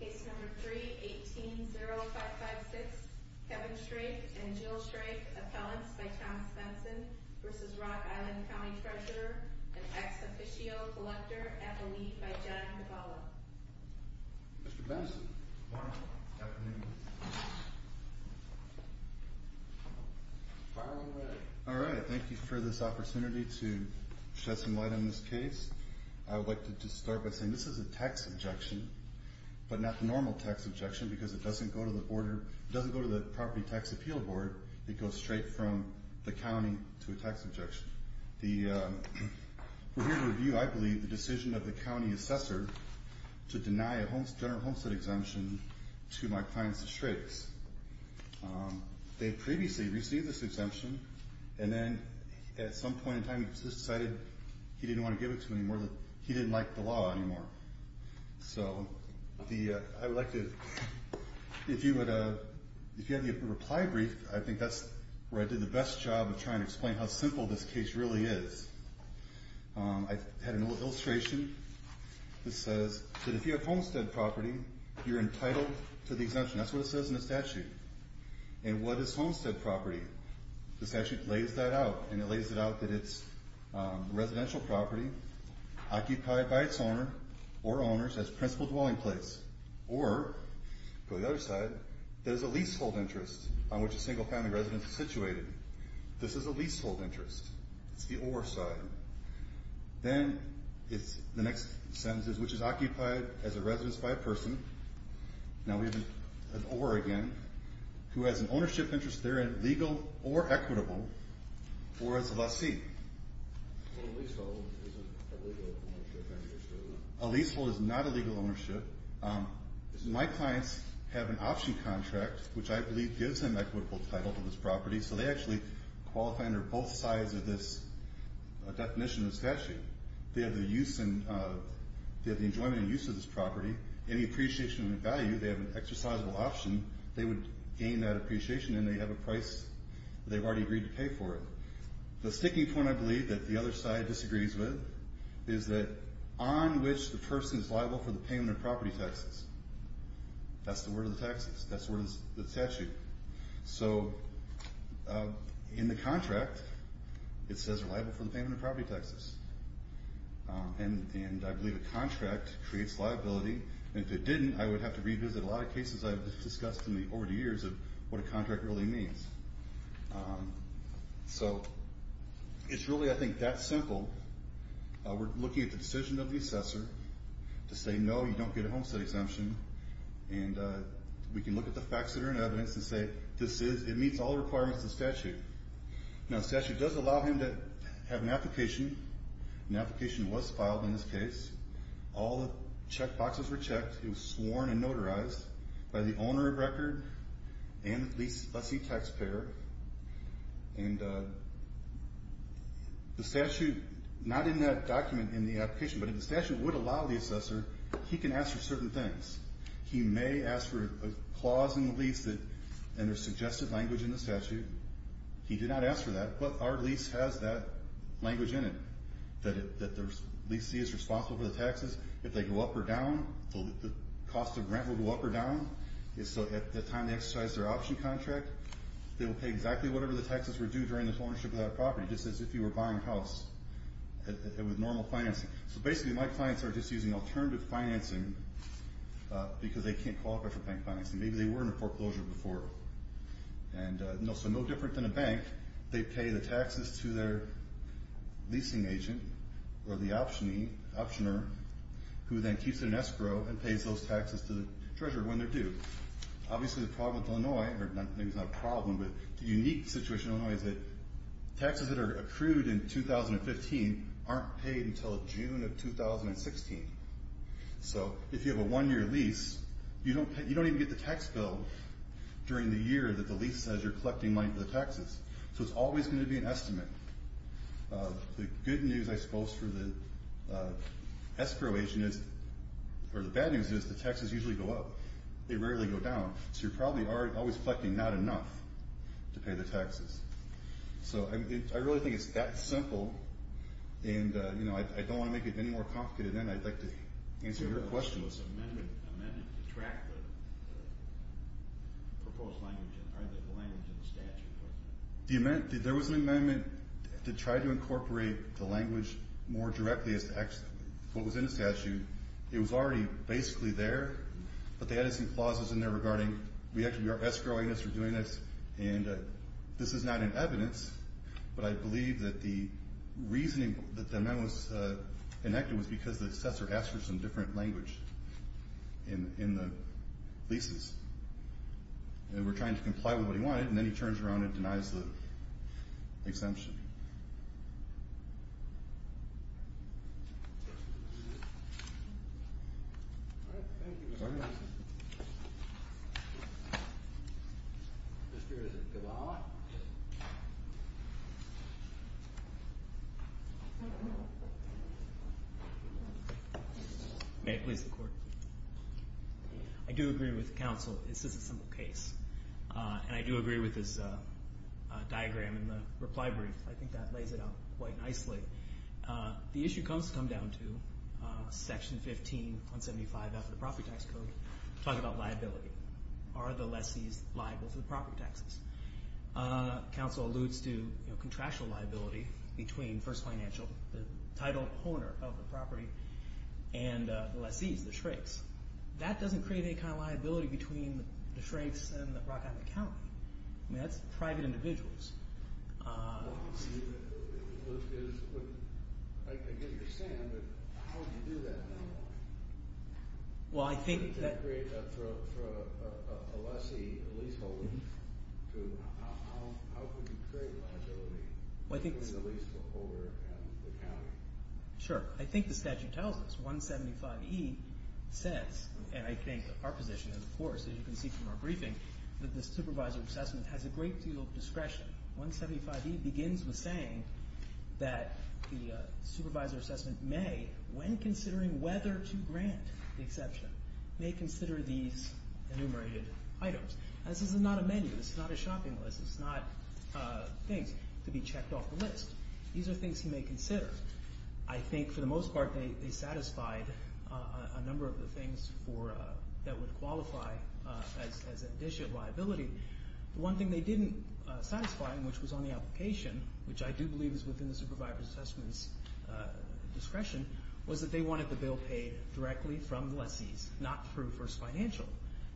Case number 3-18-0556, Kevin Shrake and Jill Shrake, appellants by Thomas Benson v. Rock Island County Treasurer & Ex-Officio Collector at the lead by John Cavallo. Mr. Benson. Good morning. Good afternoon. Fire when ready. Alright, thank you for this opportunity to shed some light on this case. I would like to start by saying this is a tax objection, but not the normal tax objection because it doesn't go to the property tax appeal board. It goes straight from the county to a tax objection. We're here to review, I believe, the decision of the county assessor to deny a general homestead exemption to my client, Mr. Shrakes. They previously received this exemption, and then at some point in time, he just decided he didn't want to give it to him anymore. He didn't like the law anymore. So, I would like to, if you would, if you have the reply brief, I think that's where I did the best job of trying to explain how simple this case really is. I had an old illustration that says that if you have homestead property, you're entitled to the exemption. That's what it says in the statute. And what is homestead property? The statute lays that out, and it lays it out that it's residential property occupied by its owner or owners as principal dwelling place. Or, go to the other side, there's a leasehold interest on which a single-family residence is situated. This is a leasehold interest. It's the or side. Then, it's the next sentence, which is occupied as a residence by a person. Now, we have an or again, who has an ownership interest therein, legal or equitable, or as a lessee. A leasehold isn't a legal ownership. A leasehold is not a legal ownership. My clients have an option contract, which I believe gives them equitable title to this property. So, they actually qualify under both sides of this definition of the statute. They have the enjoyment and use of this property, any appreciation and value. They have an exercisable option. They would gain that appreciation, and they have a price that they've already agreed to pay for it. The sticking point, I believe, that the other side disagrees with is that on which the person is liable for the payment of property taxes. That's the word of the taxes. That's the word of the statute. So, in the contract, it says they're liable for the payment of property taxes. And I believe a contract creates liability. And if it didn't, I would have to revisit a lot of cases I've discussed over the years of what a contract really means. So, it's really, I think, that simple. We're looking at the decision of the assessor to say, no, you don't get a homestead exemption. And we can look at the facts that are in evidence and say this is, it meets all the requirements of the statute. Now, the statute does allow him to have an application. An application was filed in this case. All the check boxes were checked. It was sworn and notarized by the owner of record and the lessee taxpayer. And the statute, not in that document in the application, but if the statute would allow the assessor, he can ask for certain things. He may ask for a clause in the lease and a suggested language in the statute. He did not ask for that, but our lease has that language in it that the lessee is responsible for the taxes. If they go up or down, the cost of rent will go up or down. So, at the time they exercise their option contract, they will pay exactly whatever the taxes were due during the ownership of that property, just as if you were buying a house with normal financing. So, basically, my clients are just using alternative financing because they can't qualify for bank financing. Maybe they were in a foreclosure before. So, no different than a bank, they pay the taxes to their leasing agent or the optioner, who then keeps it in escrow and pays those taxes to the treasurer when they're due. Obviously, the problem with Illinois, or maybe it's not a problem, but the unique situation in Illinois is that taxes that are accrued in 2015 aren't paid until June of 2016. So, if you have a one-year lease, you don't even get the tax bill during the year that the lease says you're collecting money for the taxes. So, it's always going to be an estimate. The good news, I suppose, for the escrow agent is, or the bad news is, the taxes usually go up. They rarely go down. So, you're probably always collecting not enough to pay the taxes. So, I really think it's that simple. And, you know, I don't want to make it any more complicated. And then I'd like to answer your question. ...to track the proposed language in the statute. There was an amendment to try to incorporate the language more directly as to what was in the statute. It was already basically there, but they added some clauses in there regarding, we have to be escrowing this or doing this, and this is not in evidence, but I believe that the reasoning that the amendment was enacted was because the assessor asked for some different language in the leases. And we're trying to comply with what he wanted, and then he turns around and denies the exemption. All right. Thank you. Mr. Gavala. May it please the Court. I do agree with counsel. This is a simple case. And I do agree with his diagram in the reply brief. I think that lays it out quite nicely. The issue comes to come down to section 15.175 after the property tax code. Talk about liability. Are the lessees liable for the property taxes? Counsel alludes to contractual liability between First Financial, the title owner of the property, and the lessees, the shrinks. That doesn't create any kind of liability between the shrinks and the Rock Island County. I mean, that's private individuals. Well, I get what you're saying, but how do you do that normally? Well, I think that To create for a lessee, a leaseholder, how could you create liability between the leaseholder and the county? Sure. I think the statute tells us, 175E says, and I think our position is, of course, as you can see from our briefing, that the supervisor assessment has a great deal of discretion. 175E begins with saying that the supervisor assessment may, when considering whether to grant the exception, may consider these enumerated items. This is not a menu. This is not a shopping list. It's not things to be checked off the list. These are things he may consider. I think, for the most part, they satisfied a number of the things that would qualify as an issue of liability. The one thing they didn't satisfy, which was on the application, which I do believe is within the supervisor's assessment's discretion, was that they wanted the bill paid directly from the lessees, not through First Financial.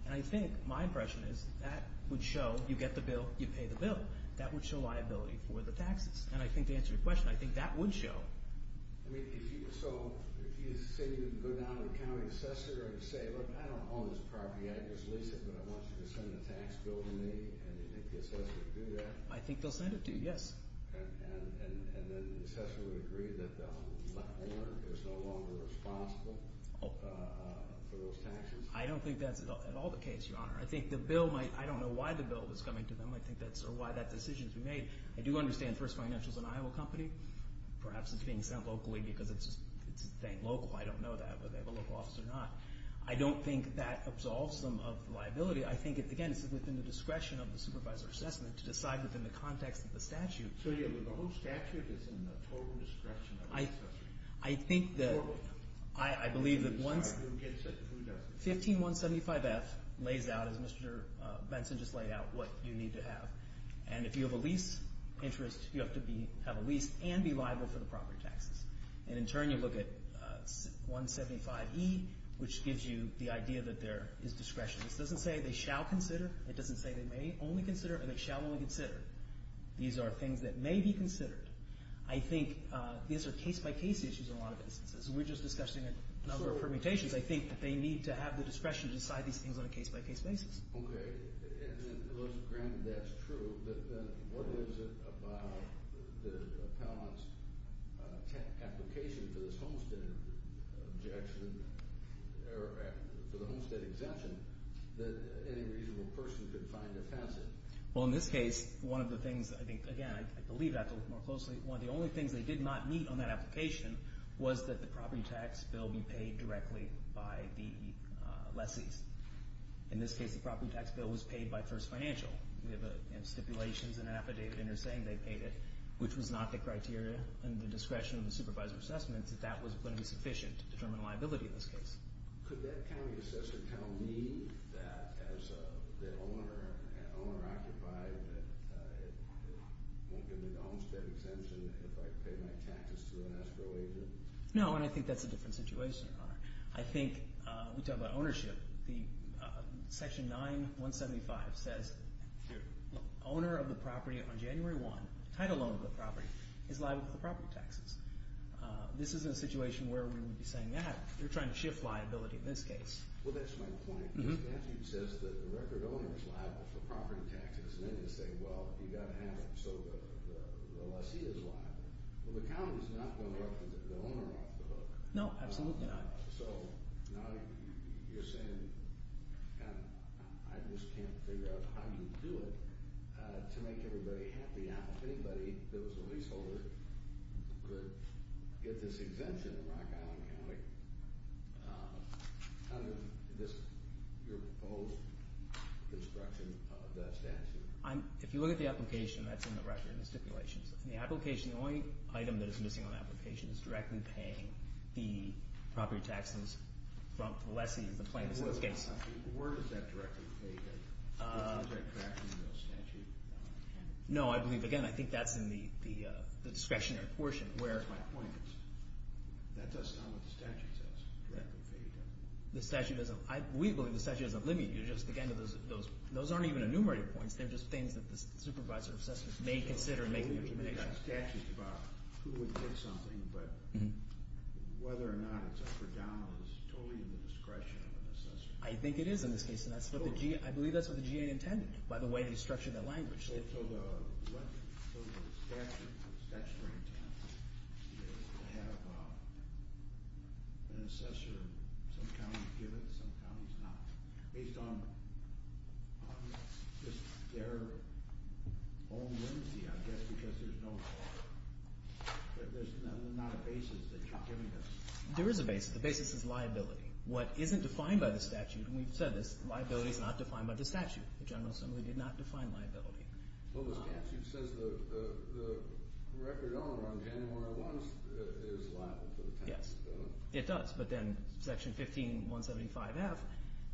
And I think my impression is that would show you get the bill, you pay the bill. That would show liability for the taxes. And I think to answer your question, I think that would show. I mean, so if you say you go down to the county assessor and say, look, I don't own this property, I just lease it, but I want you to send a tax bill to me, and you think the assessor would do that? I think they'll send it to you, yes. And then the assessor would agree that the owner is no longer responsible for those taxes? I don't think that's at all the case, Your Honor. I think the bill might—I don't know why the bill was coming to them. I think that's—or why that decision was made. I do understand First Financial is an Iowa company. Perhaps it's being sent locally because it's a thing local. I don't know that, whether they have a local office or not. I don't think that absolves them of the liability. I think, again, it's within the discretion of the supervisor's assessment to decide within the context of the statute. So, yeah, but the whole statute is in the total discretion of the assessor. I think that— Or both. I believe that once— Who gets it and who doesn't. 15175F lays out, as Mr. Benson just laid out, what you need to have. And if you have a lease interest, you have to have a lease and be liable for the property taxes. And in turn, you look at 175E, which gives you the idea that there is discretion. This doesn't say they shall consider. It doesn't say they may only consider or they shall only consider. These are things that may be considered. I think these are case-by-case issues in a lot of instances. We're just discussing a number of permutations. I think that they need to have the discretion to decide these things on a case-by-case basis. Okay. Well, granted that's true, but then what is it about the appellant's application for this homestead objection— or for the homestead exemption that any reasonable person could find offensive? Well, in this case, one of the things— I think, again, I believe I have to look more closely. One of the only things they did not meet on that application was that the property tax bill be paid directly by the lessees. In this case, the property tax bill was paid by First Financial. We have stipulations in an affidavit and they're saying they paid it, which was not the criteria under the discretion of the supervisor's assessment that that was going to be sufficient to determine liability in this case. Could that county assessor tell me that as the owner occupied, that it won't give me the homestead exemption if I pay my taxes to an escrow agent? I think we talk about ownership. Section 9.175 says the owner of the property on January 1, the title owner of the property, is liable for the property taxes. This isn't a situation where we would be saying, yeah, you're trying to shift liability in this case. Well, that's my point. The statute says that the record owner is liable for property taxes, and then they say, well, you've got to have it so the lessee is liable. Well, the county's not going to look at the owner off the hook. No, absolutely not. So now you're saying I just can't figure out how you do it to make everybody happy. Now, if anybody that was a leaseholder could get this exemption in Rock Island County, how does your proposed construction of that statute? If you look at the application, that's in the record in the stipulations. In the application, the only item that is missing on the application is directly paying the property taxes from the lessee, the plaintiff in this case. Where does that directly pay? Is there a correction in the statute? No, I believe, again, I think that's in the discretionary portion. That's my point. That does not what the statute says. The statute doesn't. We believe the statute doesn't limit you. Again, those aren't even enumerated points. They're just things that the supervisor of assessments may consider in making the determination. I believe you've got a statute about who would get something, but whether or not it's up or down is totally in the discretion of an assessor. I think it is in this case, and I believe that's what the GA intended by the way they structured that language. So the statute, the statutory intent, is to have an assessor, some counties give it, some counties not. Based on their own limits, I guess, because there's no law. There's not a basis that you're giving us. There is a basis. The basis is liability. What isn't defined by the statute, and we've said this, liability is not defined by the statute. The General Assembly did not define liability. Well, the statute says the record owner on January 1st is liable for the tax bill. Yes, it does. But then Section 15175F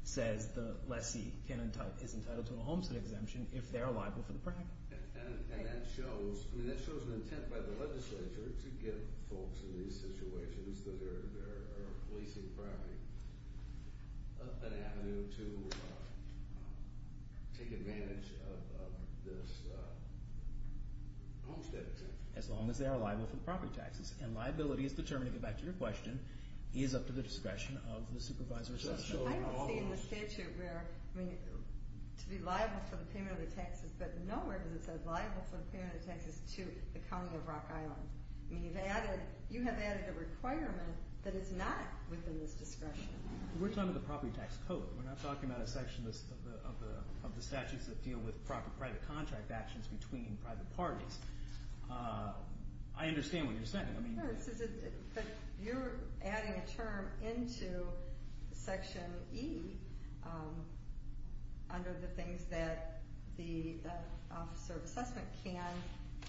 says the lessee is entitled to a homestead exemption if they're liable for the property. And that shows an intent by the legislature to give folks in these situations that are leasing property an avenue to take advantage of this homestead exemption. As long as they are liable for the property taxes. And liability is determined, to get back to your question, is up to the discretion of the supervisor. I can see in the statute where to be liable for the payment of the taxes, but nowhere does it say liable for the payment of taxes to the county of Rock Island. You have added a requirement that is not within this discretion. We're talking about the property tax code. We're not talking about a section of the statutes that deal with private contract actions between private parties. I understand what you're saying. But you're adding a term into Section E under the things that the officer of assessment can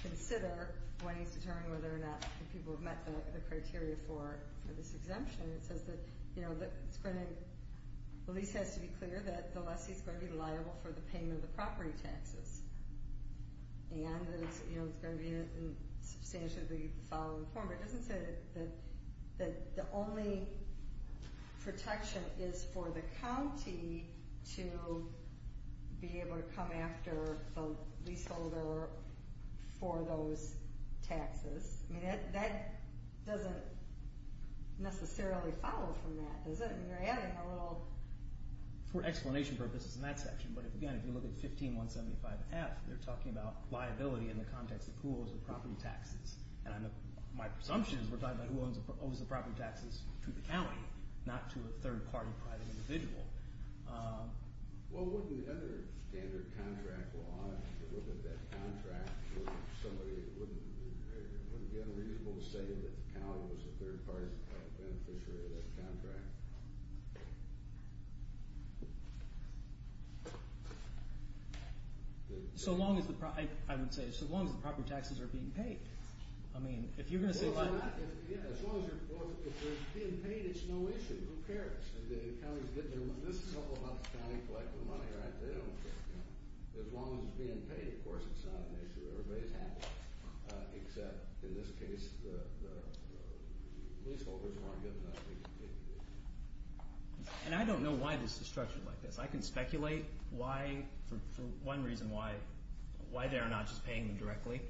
consider when he's determining whether or not people have met the criteria for this exemption. It says that the lease has to be clear that the lessee is going to be liable for the payment of the property taxes. And that it's going to be in substantially the following form. But it doesn't say that the only protection is for the county to be able to come after the leaseholder for those taxes. That doesn't necessarily follow from that, does it? For explanation purposes in that section. But again, if you look at 15175F, they're talking about liability in the context of who owes the property taxes. And my presumption is we're talking about who owes the property taxes to the county, not to a third party private individual. Well, wouldn't under standard contract law, if you look at that contract, wouldn't it be unreasonable to say that the county was a third party beneficiary of that contract? So long as the property taxes are being paid. Well, if they're being paid, it's no issue. Who cares? This is all about the county collecting the money, right? They don't care. As long as it's being paid, of course, it's not an issue. Everybody's happy. Except in this case, the leaseholders weren't good enough. And I don't know why this is structured like this. I can speculate why, for one reason, why they're not just paying them directly.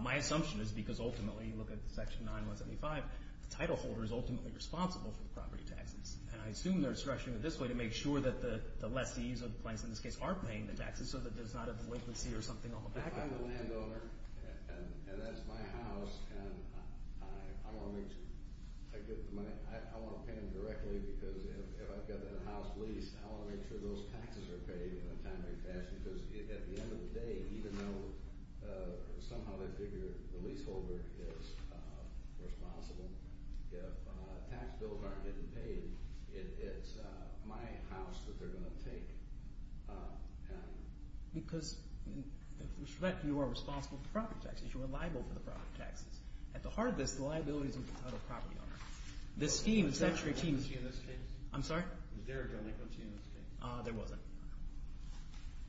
My assumption is because ultimately, look at Section 9175, the title holder is ultimately responsible for the property taxes. And I assume they're structuring it this way to make sure that the lessees of the place, in this case, are paying the taxes so that there's not a delinquency or something on the back of it. I'm the landowner, and that's my house, and I want to make sure I get the money. I want to pay them directly because if I've got the house leased, I want to make sure those taxes are paid in a timely fashion. Because at the end of the day, even though somehow they figure the leaseholder is responsible, if tax bills aren't getting paid, it's my house that they're going to take. Because, with respect, you are responsible for the property taxes. You are liable for the property taxes. At the heart of this, the liability is with the title property owner. The scheme is actually a team. Was there a delinquency in this case? I'm sorry? Was there a delinquency in this case? There wasn't.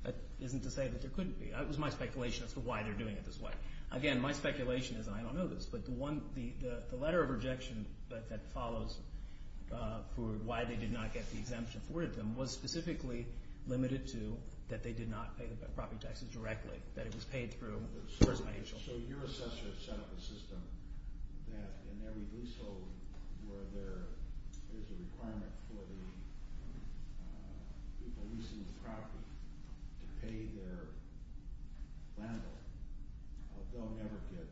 That isn't to say that there couldn't be. It was my speculation as to why they're doing it this way. Again, my speculation is, and I don't know this, but the letter of rejection that follows for why they did not get the exemption afforded them was specifically limited to that they did not pay the property taxes directly, that it was paid through the first financial. So your assessor set up a system that in every leaseholder, where there is a requirement for the people leasing the property to pay their landlord, they'll never get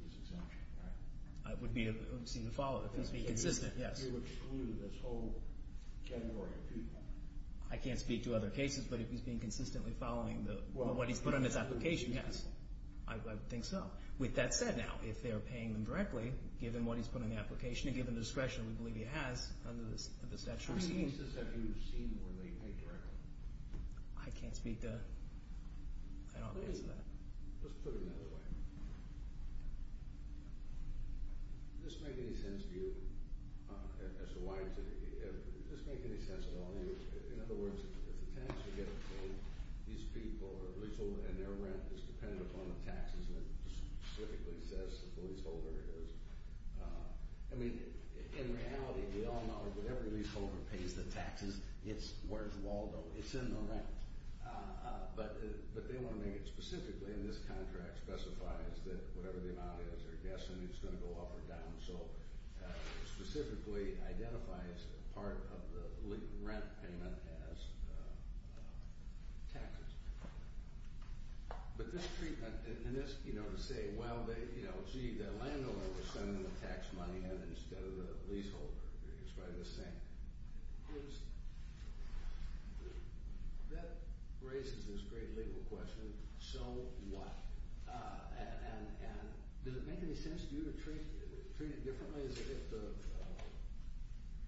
this exemption, right? It would seem to follow if he's being consistent, yes. So you excluded this whole category of people? I can't speak to other cases, but if he's being consistently following what he's put in his application, yes. I would think so. With that said, now, if they're paying them directly, given what he's put in the application, given the discretion we believe he has under the statute we're seeing. How many leases have you seen where they pay directly? I can't speak to that. Let's put it another way. Does this make any sense to you as to why? Does this make any sense at all to you? In other words, if the tenants are getting paid, these people, and their rent is dependent upon the taxes that specifically says the leaseholder is. I mean, in reality, we all know that every leaseholder pays the taxes. Where's Waldo? It's in the rent. But they want to make it specifically in this contract specifies that whatever the amount is, they're guessing it's going to go up or down. So it specifically identifies part of the rent payment as taxes. But this treatment, and this, you know, to say, well, gee, their landowner was sending them tax money instead of the leaseholder. It's probably the same. That raises this great legal question, so what? And does it make any sense to you to treat it differently?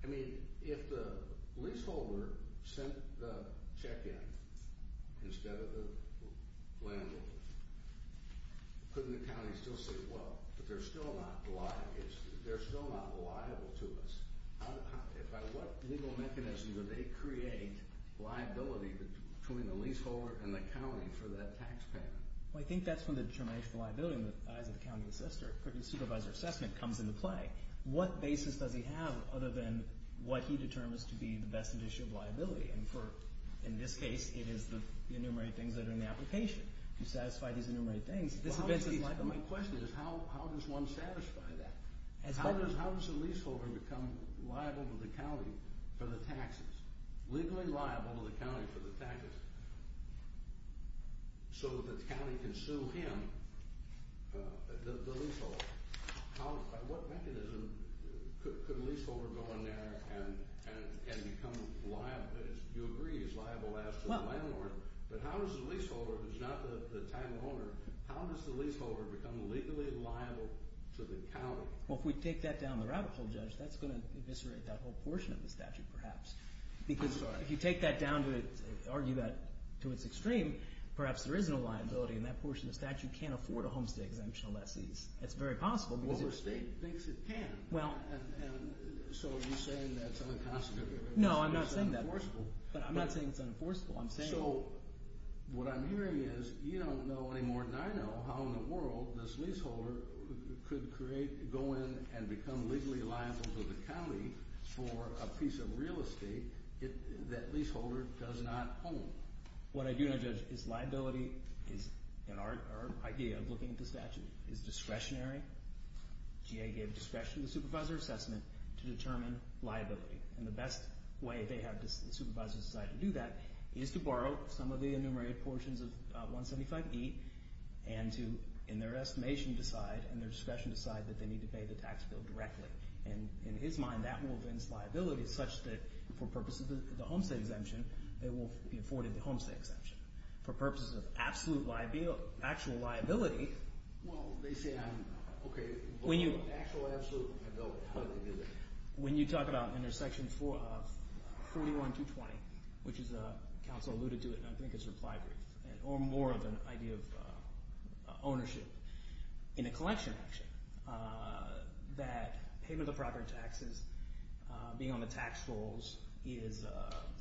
I mean, if the leaseholder sent the check in instead of the landowner, couldn't the county still say, well, but they're still not liable to us? By what legal mechanism do they create liability between the leaseholder and the county for that tax payment? Well, I think that's when the determination of liability in the eyes of the county supervisor assessment comes into play. What basis does he have other than what he determines to be the best indication of liability? And in this case, it is the enumerated things that are in the application. You satisfy these enumerated things. My question is how does one satisfy that? How does a leaseholder become liable to the county for the taxes? Legally liable to the county for the taxes? So the county can sue him, the leaseholder. By what mechanism could a leaseholder go in there and become liable? You agree he's liable to the landlord. But how does the leaseholder, if he's not the title owner, how does the leaseholder become legally liable to the county? Well, if we take that down the rabbit hole, Judge, that's going to eviscerate that whole portion of the statute perhaps. Because if you take that down to its extreme, perhaps there is no liability, and that portion of the statute can't afford a homestay exemption unless it's very possible. Well, the state thinks it can. So are you saying that's unconstitutional? No, I'm not saying that. It's unenforceable. But I'm not saying it's unenforceable. So what I'm hearing is you don't know any more than I know how in the world this leaseholder could go in and become legally liable to the county for a piece of real estate that leaseholder does not own. What I do know, Judge, is liability is, in our idea of looking at the statute, is discretionary. GA gave discretion to the supervisor assessment to determine liability. And the best way they have the supervisors decide to do that is to borrow some of the enumerated portions of 175E and to, in their estimation, decide, in their discretion, decide that they need to pay the tax bill directly. And in his mind, that will evince liability such that, for purposes of the homestay exemption, they will be afforded the homestay exemption. For purposes of absolute liability, actual liability. Well, they say, okay, actual, absolute liability. How do they do that? When you talk about intersection 41-220, which is a council alluded to it, and I think it's replied to, or more of an idea of ownership, in a collection, actually, that payment of the property taxes, being on the tax rolls is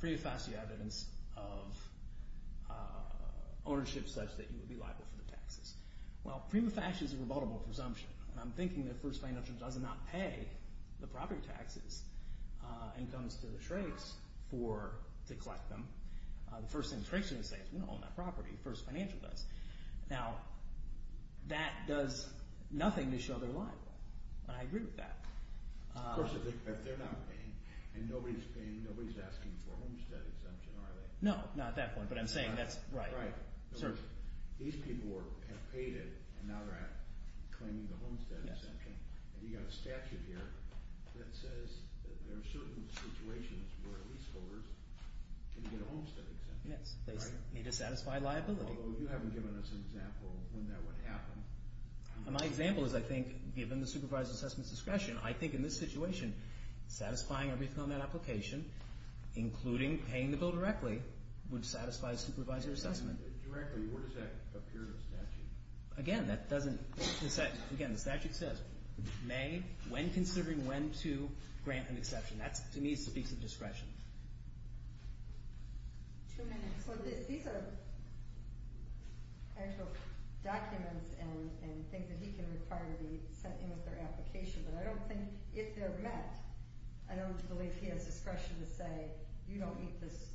prima facie evidence of ownership such that you would be liable for the taxes. Well, prima facie is a rebuttable presumption. I'm thinking that First Financial does not pay the property taxes and comes to the Shrakes to collect them. The first thing the Shrakes are going to say is we don't own that property. First Financial does. Now, that does nothing to show they're liable, and I agree with that. Of course, if they're not paying, and nobody's paying, nobody's asking for a homestead exemption, are they? No, not at that point, but I'm saying that's right. In other words, these people have paid it, and now they're claiming the homestead exemption, and you've got a statute here that says that there are certain situations where leaseholders can get a homestead exemption. Yes, they need to satisfy liability. Although you haven't given us an example of when that would happen. My example is, I think, given the supervisor's assessment discretion, I think in this situation, satisfying everything on that application, including paying the bill directly, would satisfy supervisor assessment. Directly, where does that appear in the statute? Again, the statute says, may, when considering when to grant an exception. That, to me, speaks of discretion. Two minutes. These are actual documents, and things that he can require to be sent in with their application, but I don't think, if they're met, I don't believe he has discretion to say, you don't need this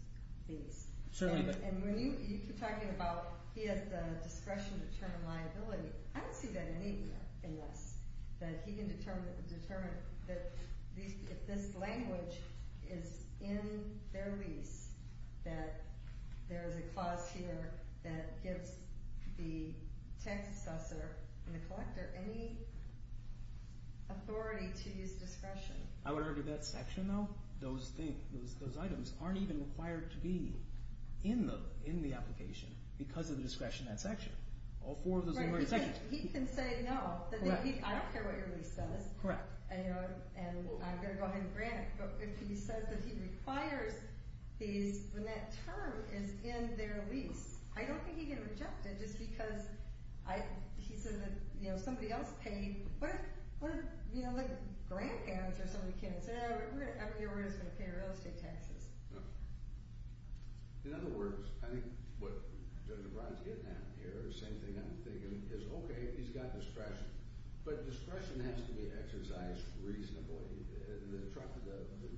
lease. Certainly not. And when you keep talking about, he has the discretion to determine liability, I don't see that in any of this. That he can determine, if this language is in their lease, that there is a clause here that gives the tax assessor and the collector any authority to use discretion. I would argue that section, though, those items aren't even required to be in the application, because of the discretion in that section. He can say no. I don't care what your lease says. Correct. And I'm going to go ahead and grant it, but if he says that he requires these, when that term is in their lease, I don't think he can reject it, just because he said that somebody else paid. What if, you know, like, grant plans, or somebody came and said, we're just going to pay real estate taxes. In other words, I think what Judge O'Brien is getting at here, the same thing I'm thinking, is, okay, he's got discretion, but discretion has to be exercised reasonably.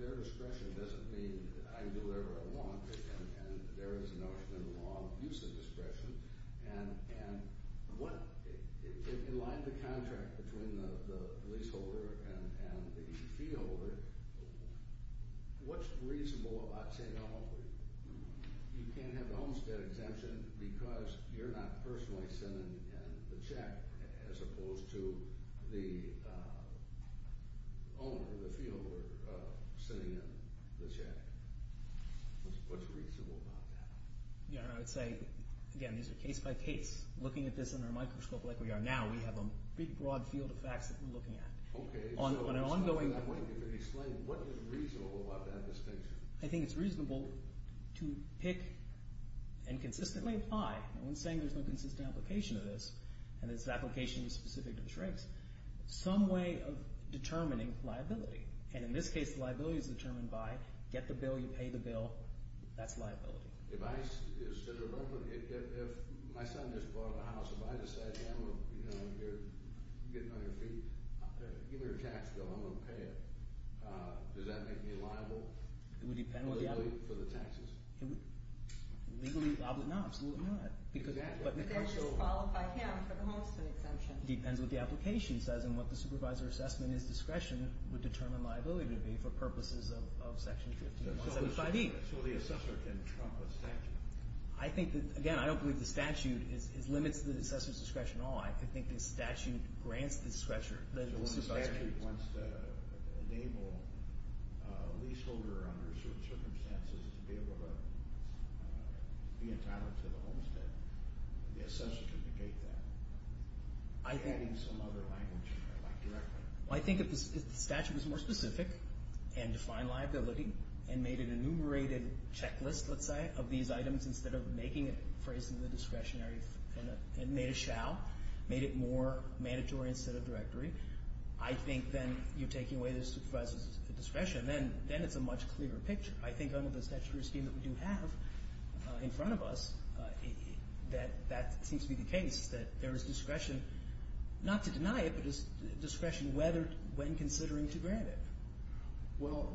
Their discretion doesn't mean I do whatever I want, and there is a notion in the law of use of discretion, and in line with the contract between the leaseholder and the feeholder, what's reasonable about saying, oh, you can't have an Olmstead exemption because you're not personally sending the check, as opposed to the owner, the feeholder, sending in the check. What's reasonable about that? Yeah, I would say, again, these are case-by-case. Looking at this under a microscope like we are now, we have a big, broad field of facts that we're looking at. On an ongoing... Explain what is reasonable about that distinction. I think it's reasonable to pick and consistently apply. No one's saying there's no consistent application of this, and this application is specific to the Shrinks. Some way of determining liability, and in this case, the liability is determined by, get the bill, you pay the bill, that's liability. If my son just bought a house, if I decide, you know, you're getting on your feet, give me your tax bill, I'm going to pay it, does that make me liable legally for the taxes? Legally liable? No, absolutely not. Does that just qualify him for the Homestead exemption? Depends what the application says and what the supervisor assessment is discretion would determine liability to be for purposes of Section 1575E. So the assessor can trump a statute? I think that, again, I don't believe the statute limits the assessor's discretion at all. I think the statute grants the discretion. So the statute wants to enable a leaseholder under certain circumstances to be able to be entitled to the Homestead. The assessor can negate that. I think if the statute was more specific and defined liability and made an enumerated checklist, let's say, of these items instead of making it, phrasing the discretionary, and made a shall, made it more mandatory instead of directory, I think then you're taking away the supervisor's discretion. Then it's a much clearer picture. I think under the statutory scheme that we do have in front of us that that seems to be the case, that there is discretion not to deny it, but there's discretion when considering to grant it. Well,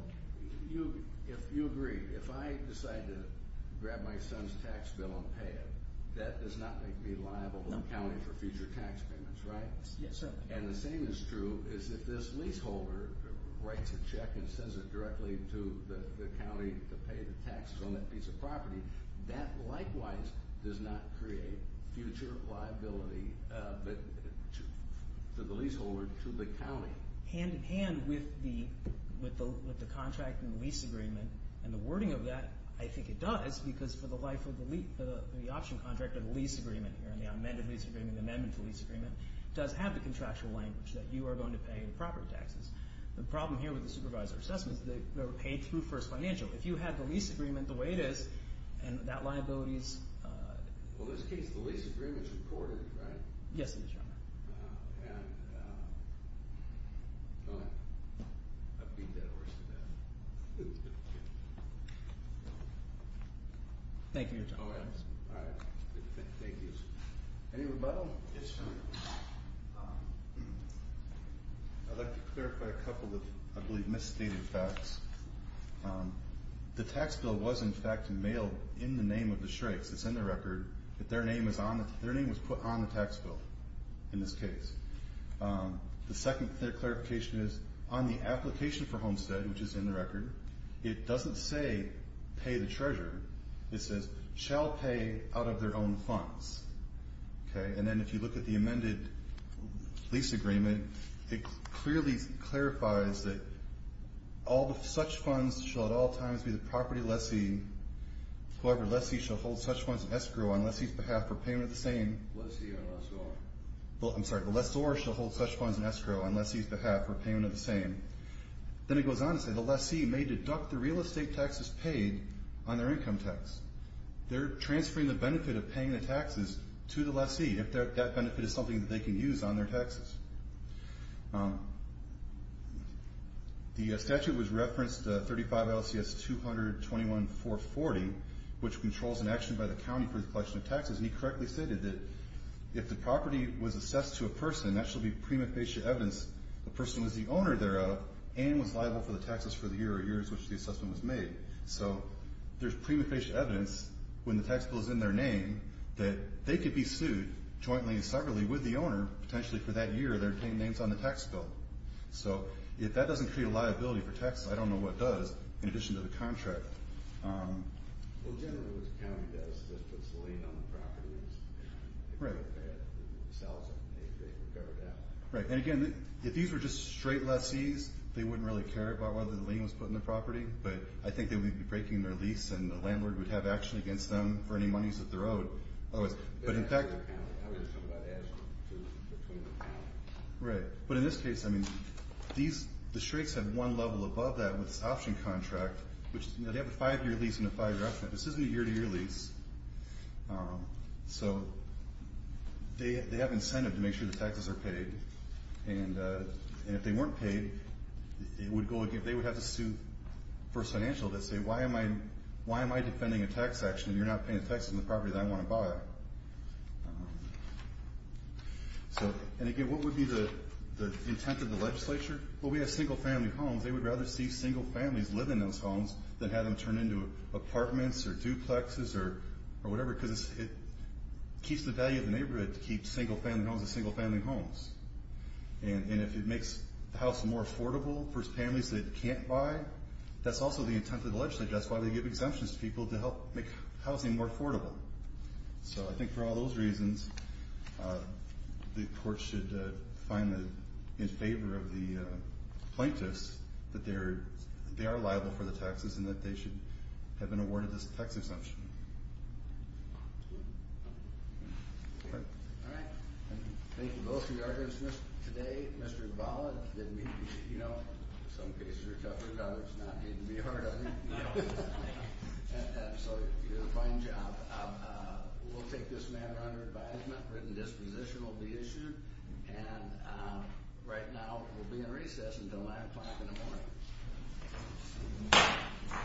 you agree. If I decide to grab my son's tax bill and pay it, that does not make me liable to the county for future tax payments, right? Yes, sir. And the same is true is if this leaseholder writes a check and sends it directly to the county to pay the taxes on that piece of property, that likewise does not create future liability to the leaseholder, to the county. Hand-in-hand with the contract and the lease agreement, and the wording of that, I think it does, because for the life of the lease, the option contract of the lease agreement here and the amended lease agreement, the amendment to the lease agreement, does have the contractual language that you are going to pay the property taxes. The problem here with the supervisor assessment is that they were paid through first financial. If you had the lease agreement the way it is, and that liability is... Well, in this case, the lease agreement is recorded, right? Yes, it is, Your Honor. And I beat that horse to death. Thank you, Your Honor. Any rebuttal? Yes, sir. Thank you. I'd like to clarify a couple of, I believe, misstated facts. The tax bill was, in fact, mailed in the name of the Shrakes. It's in the record. Their name was put on the tax bill in this case. The second clarification is on the application for Homestead, which is in the record, it doesn't say pay the treasurer. It says, shall pay out of their own funds. And then if you look at the amended lease agreement, it clearly clarifies that all such funds shall at all times be the property of the lessee, whoever lessee shall hold such funds in escrow on lessee's behalf for payment of the same. Lessee or lessor. I'm sorry. The lessor shall hold such funds in escrow on lessee's behalf for payment of the same. Then it goes on to say the lessee may deduct the real estate taxes paid on their income tax. They're transferring the benefit of paying the taxes to the lessee if that benefit is something that they can use on their taxes. The statute was referenced, 35 LCS 200-21-440, which controls an action by the county for the collection of taxes, and he correctly stated that if the property was assessed to a person, that shall be prima facie evidence the person was the owner thereof and was liable for the taxes for the year or years which the assessment was made. So there's prima facie evidence when the tax bill is in their name that they could be sued jointly and separately with the owner, potentially for that year they're paying names on the tax bill. So if that doesn't create a liability for taxes, I don't know what does, in addition to the contract. Well, generally what the county does is just puts the lien on the property. Right. If they don't pay it, it sells it. They figure it out. Right. And, again, if these were just straight lessees, they wouldn't really care about whether the lien was put on the property, but I think they would be breaking their lease and the landlord would have action against them for any monies that they're owed. Otherwise, but in fact. I was just talking about the action between the county. Right. But in this case, I mean, the straights have one level above that with this option contract, which they have a five-year lease and a five-year option. This isn't a year-to-year lease. So they have incentive to make sure the taxes are paid. And if they weren't paid, they would have to sue for financial that say why am I defending a tax action and you're not paying taxes on the property that I want to buy. And, again, what would be the intent of the legislature? Well, we have single-family homes. They would rather see single families live in those homes than have them turn into apartments or duplexes or whatever because it keeps the value of the neighborhood to keep single-family homes as single-family homes. And if it makes the house more affordable for families that it can't buy, that's also the intent of the legislature. That's why they give exemptions to people to help make housing more affordable. So I think for all those reasons, the court should find in favor of the plaintiffs that they are liable for the taxes and that they should have been awarded this tax exemption. All right. Thank you both for your answers today. Mr. Gavala, some cases are tougher than others. It's not me to be hard on you. So you did a fine job. We'll take this matter under advisement. Written disposition will be issued. And right now we'll be in recess until 9 o'clock in the morning.